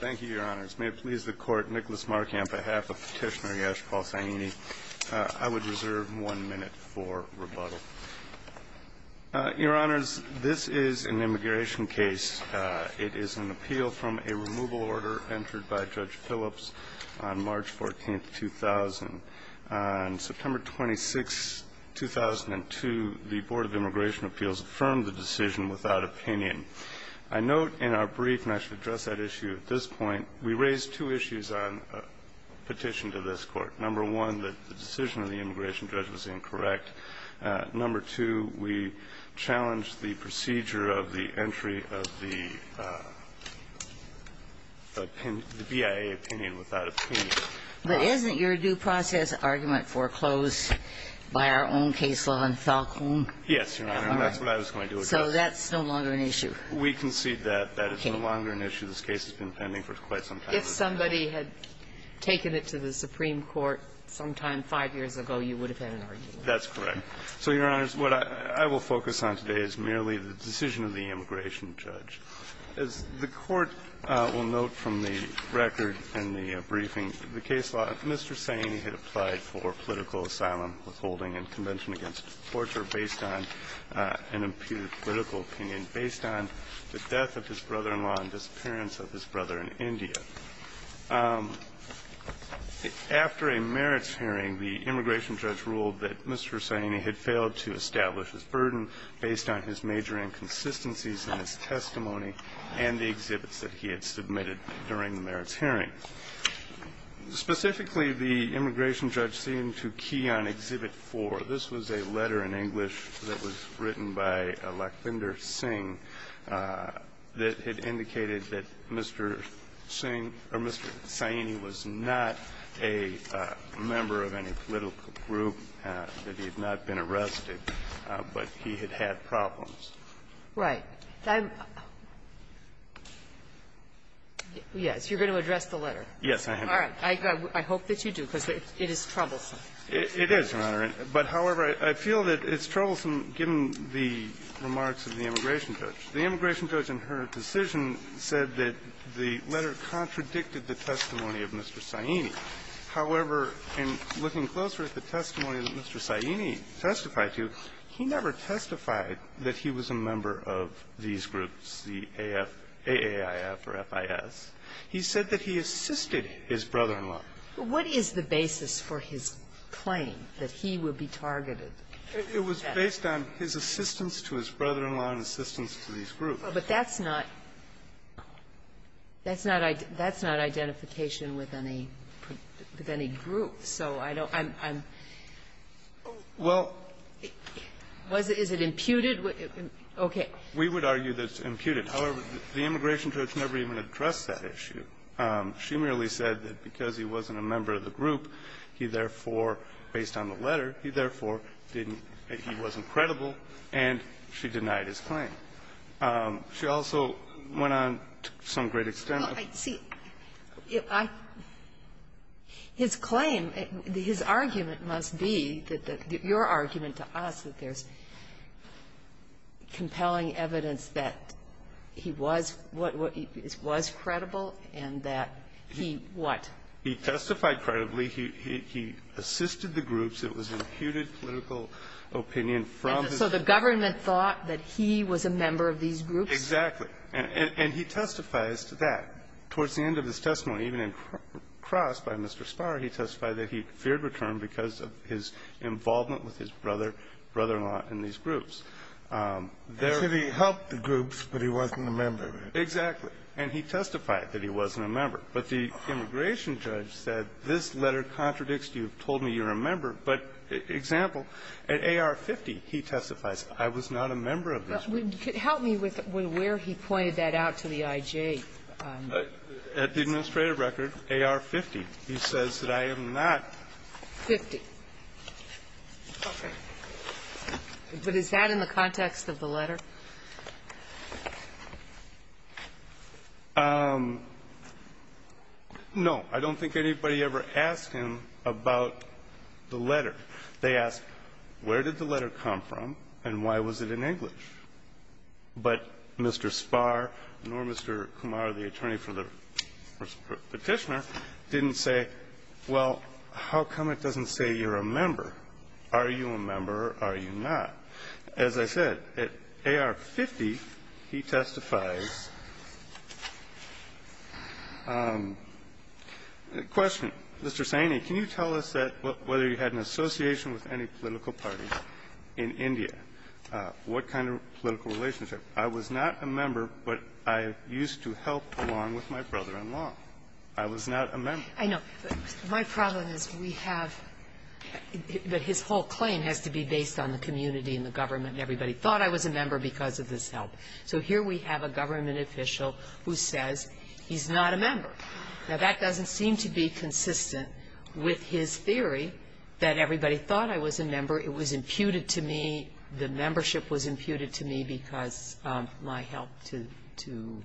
Thank you, Your Honors. May it please the Court, Nicholas Markamp, on behalf of Petitioner Yash Paul Saini, I would reserve one minute for rebuttal. Your Honors, this is an immigration case. It is an appeal from a removal order entered by Judge Phillips on March 14, 2000. On September 26, 2002, the Board of Immigration Appeals affirmed the decision without opinion. I note in our brief, and I should address that issue at this point, we raised two issues on a petition to this Court. Number one, that the decision of the immigration judge was incorrect. Number two, we challenged the procedure of the entry of the BIA opinion without opinion. But isn't your due process argument foreclosed by our own case law in Falcone? Yes, Your Honor, and that's what I was going to address. So that's no longer an issue. We concede that that is no longer an issue. This case has been pending for quite some time. If somebody had taken it to the Supreme Court sometime five years ago, you would have had an argument. That's correct. So, Your Honors, what I will focus on today is merely the decision of the immigration judge. As the Court will note from the record and the briefing of the case law, Mr. Saini had applied for political asylum, withholding, and convention against torture based on an imputed political opinion, based on the death of his brother-in-law and disappearance of his brother in India. After a merits hearing, the immigration judge ruled that Mr. Saini had failed to establish his burden based on his major inconsistencies in his testimony and the exhibits that he had submitted during the merits hearing. Specifically, the immigration judge seemed to key on Exhibit 4. This was a letter in English that was written by Lakbinder Singh that had indicated that Mr. Singh or Mr. Saini was not a member of any political group, that he had not been arrested, but he had had problems. Right. I'm — yes, you're going to address the letter. Yes, I am. All right. It is, Your Honor. But, however, I feel that it's troublesome, given the remarks of the immigration judge. The immigration judge, in her decision, said that the letter contradicted the testimony of Mr. Saini. However, in looking closer at the testimony that Mr. Saini testified to, he never testified that he was a member of these groups, the AAIF or FIS. He said that he assisted his brother-in-law. What is the basis for his claim that he would be targeted? It was based on his assistance to his brother-in-law and assistance to these groups. But that's not — that's not identification with any group. So I don't — I'm — I'm — Well — Was it — is it imputed? Okay. We would argue that it's imputed. However, the immigration judge never even addressed that issue. She merely said that because he wasn't a member of the group, he therefore, based on the letter, he therefore didn't — that he wasn't credible, and she denied his claim. She also went on to some great extent of — Well, see, I — his claim, his argument must be that the — your argument to us that there's compelling evidence that he was — was credible and that he what? He testified credibly. He — he assisted the groups. It was imputed political opinion from his — So the government thought that he was a member of these groups? Exactly. And he testifies to that. Towards the end of his testimony, even in cross by Mr. Spar, he testified that he feared return because of his involvement with his brother, brother-in-law in these groups. There — So he helped the groups, but he wasn't a member? Exactly. And he testified that he wasn't a member. But the immigration judge said, this letter contradicts you, told me you're a member. But, example, at AR-50, he testifies, I was not a member of this group. Help me with where he pointed that out to the I.J. At the administrative record, AR-50, he says that I am not. Fifty. Okay. But is that in the context of the letter? No. I don't think anybody ever asked him about the letter. They asked, where did the letter come from and why was it in English? But Mr. Spar, nor Mr. Kumar, the attorney for the Petitioner, didn't say, well, how come it doesn't say you're a member? Are you a member or are you not? As I said, at AR-50, he testifies — question. Mr. Saini, can you tell us that — whether you had an association with any political party in India? What kind of political relationship? I was not a member, but I used to help along with my brother-in-law. I was not a member. I know. My problem is we have — but his whole claim has to be based on the community and the government and everybody thought I was a member because of this help. So here we have a government official who says he's not a member. Now, that doesn't seem to be consistent with his theory that everybody thought I was a member. It was imputed to me. The membership was imputed to me because of my help to — to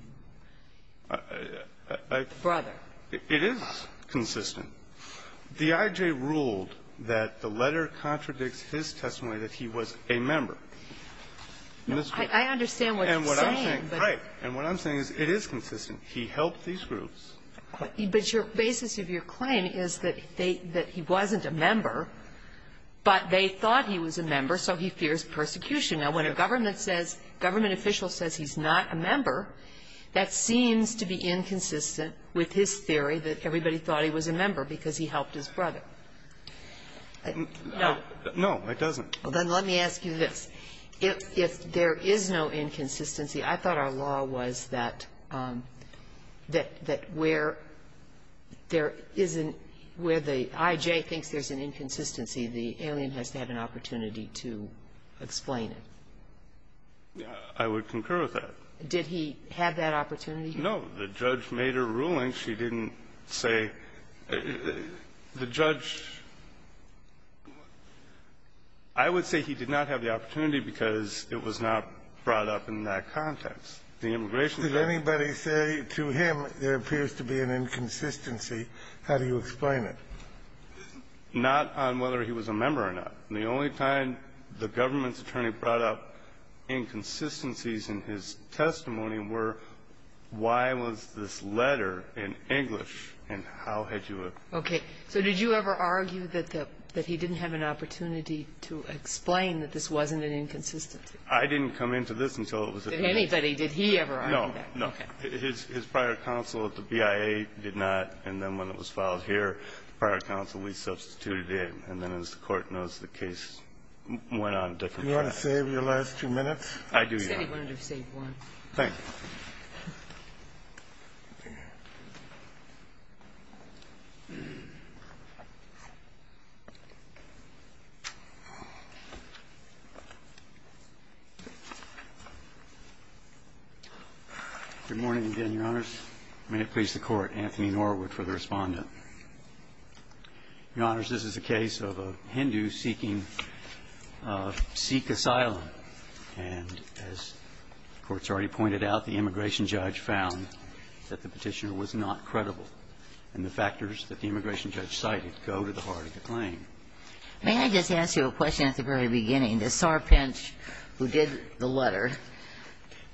the brother. It is consistent. The I.J. ruled that the letter contradicts his testimony that he was a member. I understand what you're saying, but — And what I'm saying — right. And what I'm saying is it is consistent. He helped these groups. But your basis of your claim is that they — that he wasn't a member, but they thought he was a member, so he fears persecution. Now, when a government says — government official says he's not a member, that seems to be inconsistent with his theory that everybody thought he was a member because he helped his brother. No. No, it doesn't. Then let me ask you this. If there is no inconsistency, I thought our law was that — that where there isn't — where the I.J. thinks there's an inconsistency, the alien has to have an opportunity to explain it. I would concur with that. Did he have that opportunity? No. The judge made a ruling. She didn't say — the judge — I would say he did not have the opportunity because it was not brought up in that context. The immigration — Did anybody say to him, there appears to be an inconsistency, how do you explain it? Not on whether he was a member or not. The only time the government's attorney brought up inconsistencies in his testimony were, why was this letter in English, and how had you — Okay. So did you ever argue that the — that he didn't have an opportunity to explain that this wasn't an inconsistency? I didn't come into this until it was — Did anybody? Did he ever argue that? No. Okay. His prior counsel at the BIA did not, and then when it was filed here, prior counsel we substituted it, and then as the Court knows, the case went on a different track. Do you want to save your last two minutes? I do, Your Honor. He said he wanted to save one. Thank you. Good morning again, Your Honors. May it please the Court. Anthony Norwood for the Respondent. Your Honors, this is a case of a Hindu seeking Sikh asylum, and as the Court's already pointed out, the immigration judge found that the Petitioner was not credible. And the factors that the immigration judge cited go to the heart of the claim. May I just ask you a question at the very beginning? The sarpinch who did the letter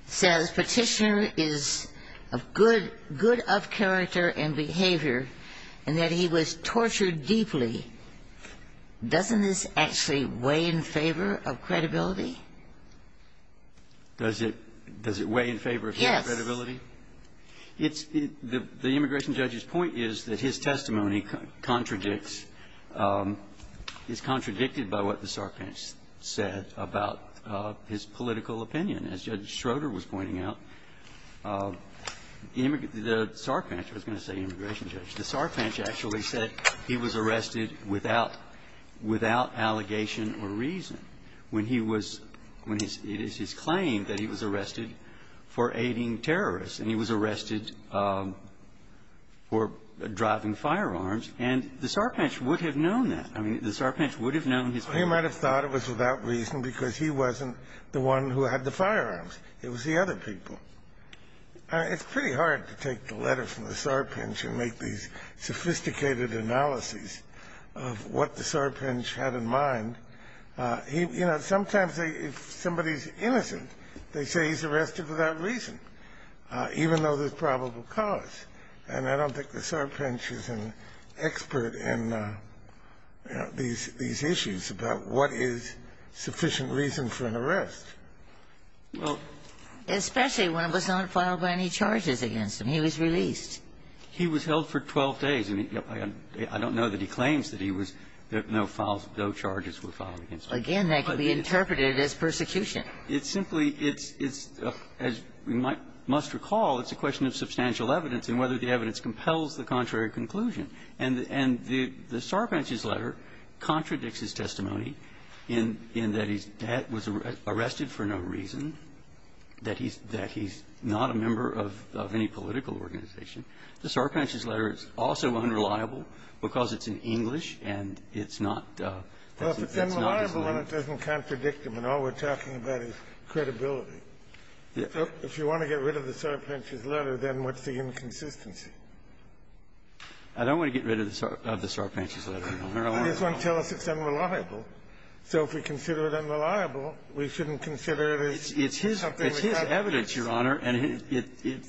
says Petitioner is of good — good of character and behavior, and that he was tortured deeply. Doesn't this actually weigh in favor of credibility? Does it — does it weigh in favor of credibility? Yes. It's — the immigration judge's point is that his testimony contradicts — is contradicted by what the sarpinch said about his political opinion. As Judge Schroeder was pointing out, the sarpinch — I was going to say immigration judge — the sarpinch actually said he was arrested without — without allegation or reason when he was — when his — it is his claim that he was arrested for aiding terrorists, and he was arrested for driving firearms. And the sarpinch would have known that. I mean, the sarpinch would have known his — Well, he might have thought it was without reason because he wasn't the one who had the firearms. It was the other people. It's pretty hard to take the letter from the sarpinch and make these sophisticated analyses of what the sarpinch had in mind. He — you know, sometimes they — if somebody's innocent, they say he's arrested without reason, even though there's probable cause. And I don't think the sarpinch is an expert in, you know, these — these issues about what is sufficient reason for an arrest. Well, especially when it was not filed by any charges against him. He was released. He was held for 12 days. And I don't know that he claims that he was — that no files — no charges were filed against him. Again, that can be interpreted as persecution. It's simply — it's — it's — as you must recall, it's a question of substantial evidence and whether the evidence compels the contrary conclusion. And the — and the sarpinch's letter contradicts his testimony in — in that he was arrested for no reason, that he's — that he's not a member of — of any political organization. The sarpinch's letter is also unreliable because it's in English, and it's not — Well, if it's unreliable, then it doesn't contradict him. And all we're talking about is credibility. If you want to get rid of the sarpinch's letter, then what's the inconsistency? I don't want to get rid of the sarpinch's letter, Your Honor. I just want to tell us it's unreliable. So if we consider it unreliable, we shouldn't consider it as something which has to be — It's his — it's his evidence, Your Honor, and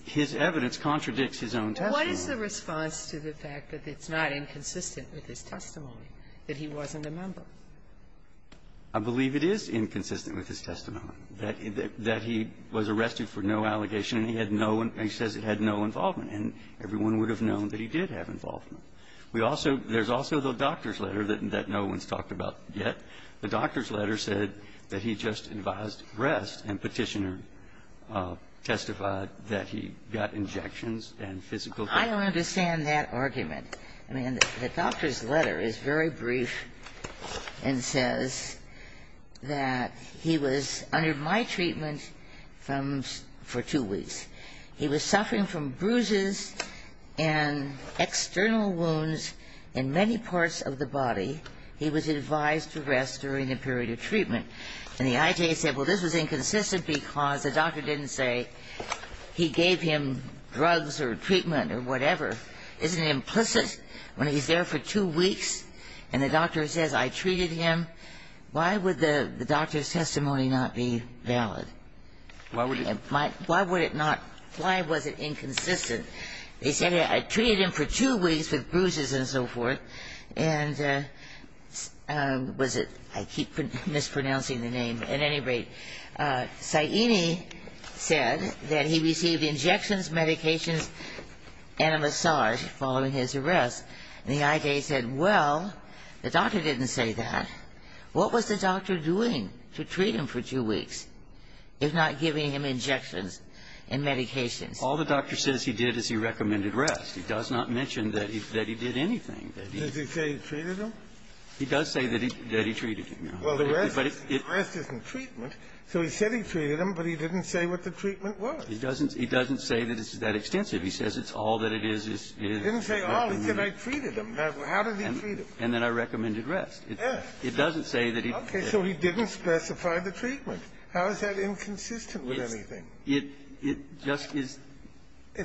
his evidence contradicts his own testimony. What is the response to the fact that it's not inconsistent with his testimony, that he wasn't a member? I believe it is inconsistent with his testimony, that he was arrested for no allegation, and he had no — he says it had no involvement. And everyone would have known that he did have involvement. We also — there's also the doctor's letter that no one's talked about yet. The doctor's letter said that he just advised rest, and Petitioner testified that he got injections and physical therapy. I don't understand that argument. I mean, the doctor's letter is very brief and says that he was under my treatment from — for two weeks. He was suffering from bruises and external wounds in many parts of the body. He was advised to rest during the period of treatment. And the IJA said, well, this was inconsistent because the doctor didn't say he gave him drugs or treatment or whatever. Isn't it implicit when he's there for two weeks and the doctor says, I treated him? Why would the doctor's testimony not be valid? Why would it not — why was it inconsistent? He said, I treated him for two weeks with bruises and so forth. And was it — I keep mispronouncing the name. At any rate, Saini said that he received injections, medications, and a massage following his arrest. And the IJA said, well, the doctor didn't say that. What was the doctor doing to treat him for two weeks? If not giving him injections and medications? All the doctor says he did is he recommended rest. He does not mention that he did anything. Did he say he treated him? He does say that he treated him. Well, the rest isn't treatment. So he said he treated him, but he didn't say what the treatment was. He doesn't say that it's that extensive. He says it's all that it is. He didn't say all. He said, I treated him. How did he treat him? And then I recommended rest. Yes. It doesn't say that he — Okay. So he didn't specify the treatment. How is that inconsistent with anything? It just is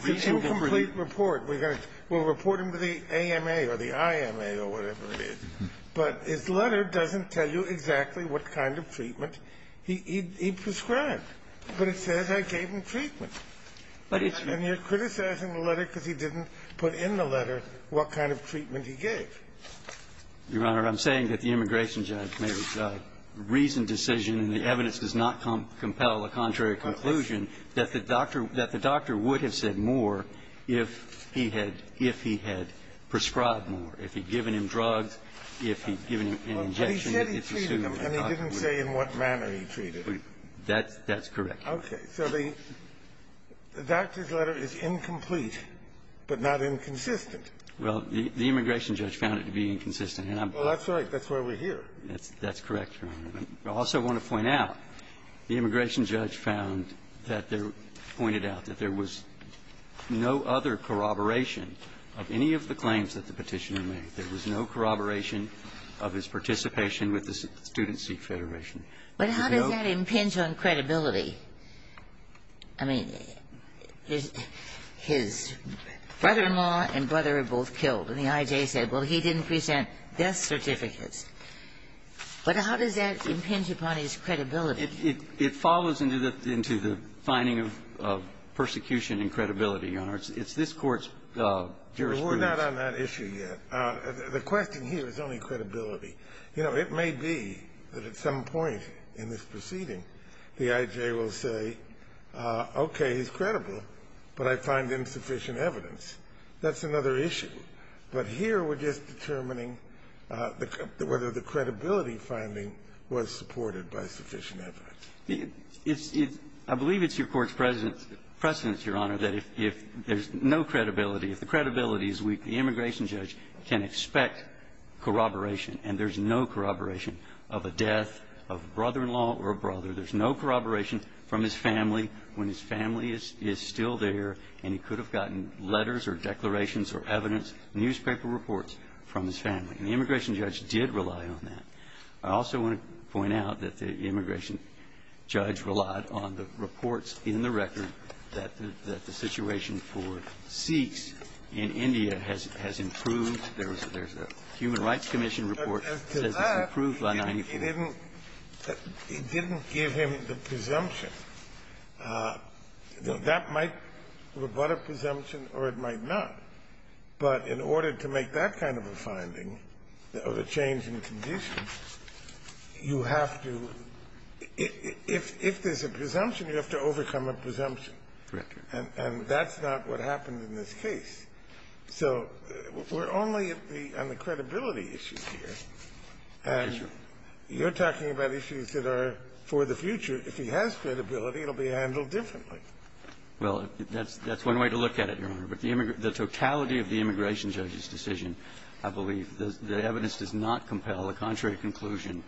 reasonable for him — It's an incomplete report. We're going to — we'll report him to the AMA or the IMA or whatever it is. But his letter doesn't tell you exactly what kind of treatment he prescribed. But it says I gave him treatment. But it's — And you're criticizing the letter because he didn't put in the letter what kind of treatment he gave. Your Honor, I'm saying that the immigration judge made a reasoned decision, and the evidence does not compel a contrary conclusion, that the doctor would have said more if he had — if he had prescribed more, if he'd given him drugs, if he'd given him an injection. Well, he said he treated him, and he didn't say in what manner he treated him. That's correct. Okay. So the doctor's letter is incomplete, but not inconsistent. Well, the immigration judge found it to be inconsistent, and I'm — Well, that's right. That's why we're here. That's correct, Your Honor. I also want to point out, the immigration judge found that there — pointed out that there was no other corroboration of any of the claims that the Petitioner made. There was no corroboration of his participation with the Student Seek Federation. There's no — But how does that impinge on credibility? I mean, his brother-in-law and brother are both killed, and the IJ said, well, he didn't present death certificates. But how does that impinge upon his credibility? It follows into the finding of persecution and credibility, Your Honor. It's this Court's jurisprudence. We're not on that issue yet. The question here is only credibility. You know, it may be that at some point in this proceeding, the IJ will say, okay, he's credible, but I find insufficient evidence. That's another issue. But here, we're just determining whether the credibility finding was supported by sufficient evidence. I believe it's your Court's precedence, Your Honor, that if there's no credibility, if the credibility is weak, the immigration judge can expect corroboration. And there's no corroboration of a death of a brother-in-law or a brother. There's no corroboration from his family when his family is still there, and he could newspaper reports from his family. And the immigration judge did rely on that. I also want to point out that the immigration judge relied on the reports in the record that the situation for Sikhs in India has improved. There's a Human Rights Commission report that says it's improved by 94. It didn't give him the presumption. That might have been a presumption, or it might not. But in order to make that kind of a finding of a change in condition, you have to If there's a presumption, you have to overcome a presumption. And that's not what happened in this case. So we're only on the credibility issue here. And you're talking about issues that are for the future. If he has credibility, it will be handled differently. Well, that's one way to look at it, Your Honor. But the totality of the immigration judge's decision, I believe, the evidence does not compel a contrary conclusion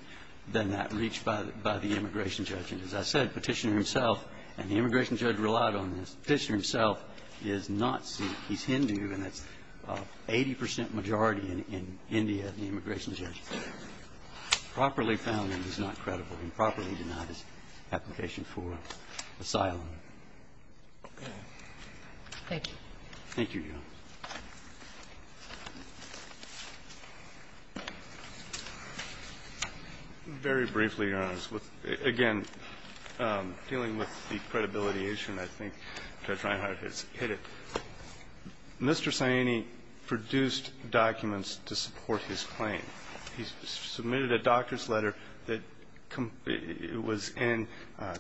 than that reached by the immigration judge. And as I said, Petitioner himself and the immigration judge relied on this. Petitioner himself is not Sikh. He's Hindu, and that's 80 percent majority in India, the immigration judge. Properly found him is not credible. Improperly denied his application for asylum. Thank you. Thank you, Your Honor. Very briefly, Your Honor, again, dealing with the credibility issue, and I think Judge Reinhart has hit it, Mr. Saini produced documents to support his claim. He submitted a doctor's letter that was in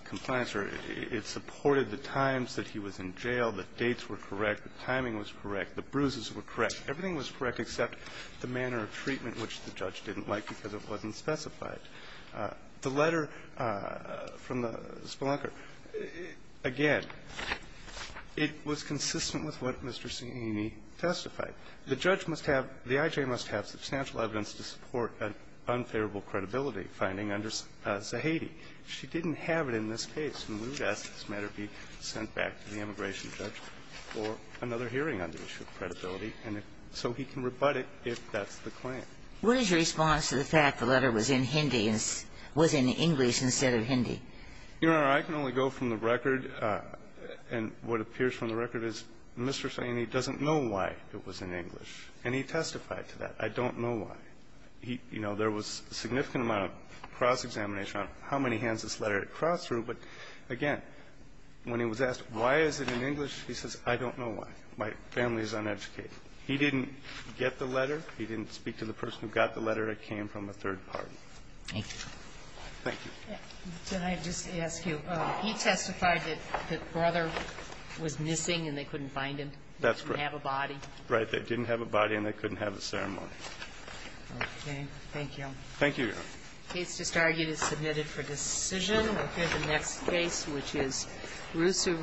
compliance, or it supported the times that he was in jail, the dates were correct, the timing was correct, the bruises were correct. Everything was correct except the manner of treatment, which the judge didn't like because it wasn't specified. The letter from the spelunker, again, it was consistent with what Mr. Saini testified. The judge must have the I.J. must have substantial evidence to support an unfavorable credibility finding under Zahedi. If she didn't have it in this case, then we would ask this matter be sent back to the immigration judge for another hearing on the issue of credibility, and so he can rebut it if that's the claim. What is your response to the fact the letter was in Hindi and was in English instead of Hindi? Your Honor, I can only go from the record, and what appears from the record is Mr. Saini's letter was in English, and he testified to that. I don't know why. You know, there was a significant amount of cross-examination on how many hands this letter had crossed through, but, again, when he was asked, why is it in English, he says, I don't know why. My family is uneducated. He didn't get the letter. He didn't speak to the person who got the letter. It came from a third party. Thank you. Thank you. Can I just ask you, he testified that the brother was missing and they couldn't find him. That's correct. He didn't have a body. Right. They didn't have a body and they couldn't have a ceremony. Okay. Thank you. Thank you, Your Honor. The case just argued is submitted for decision. We'll hear the next case, which is Rusu v. McKayson.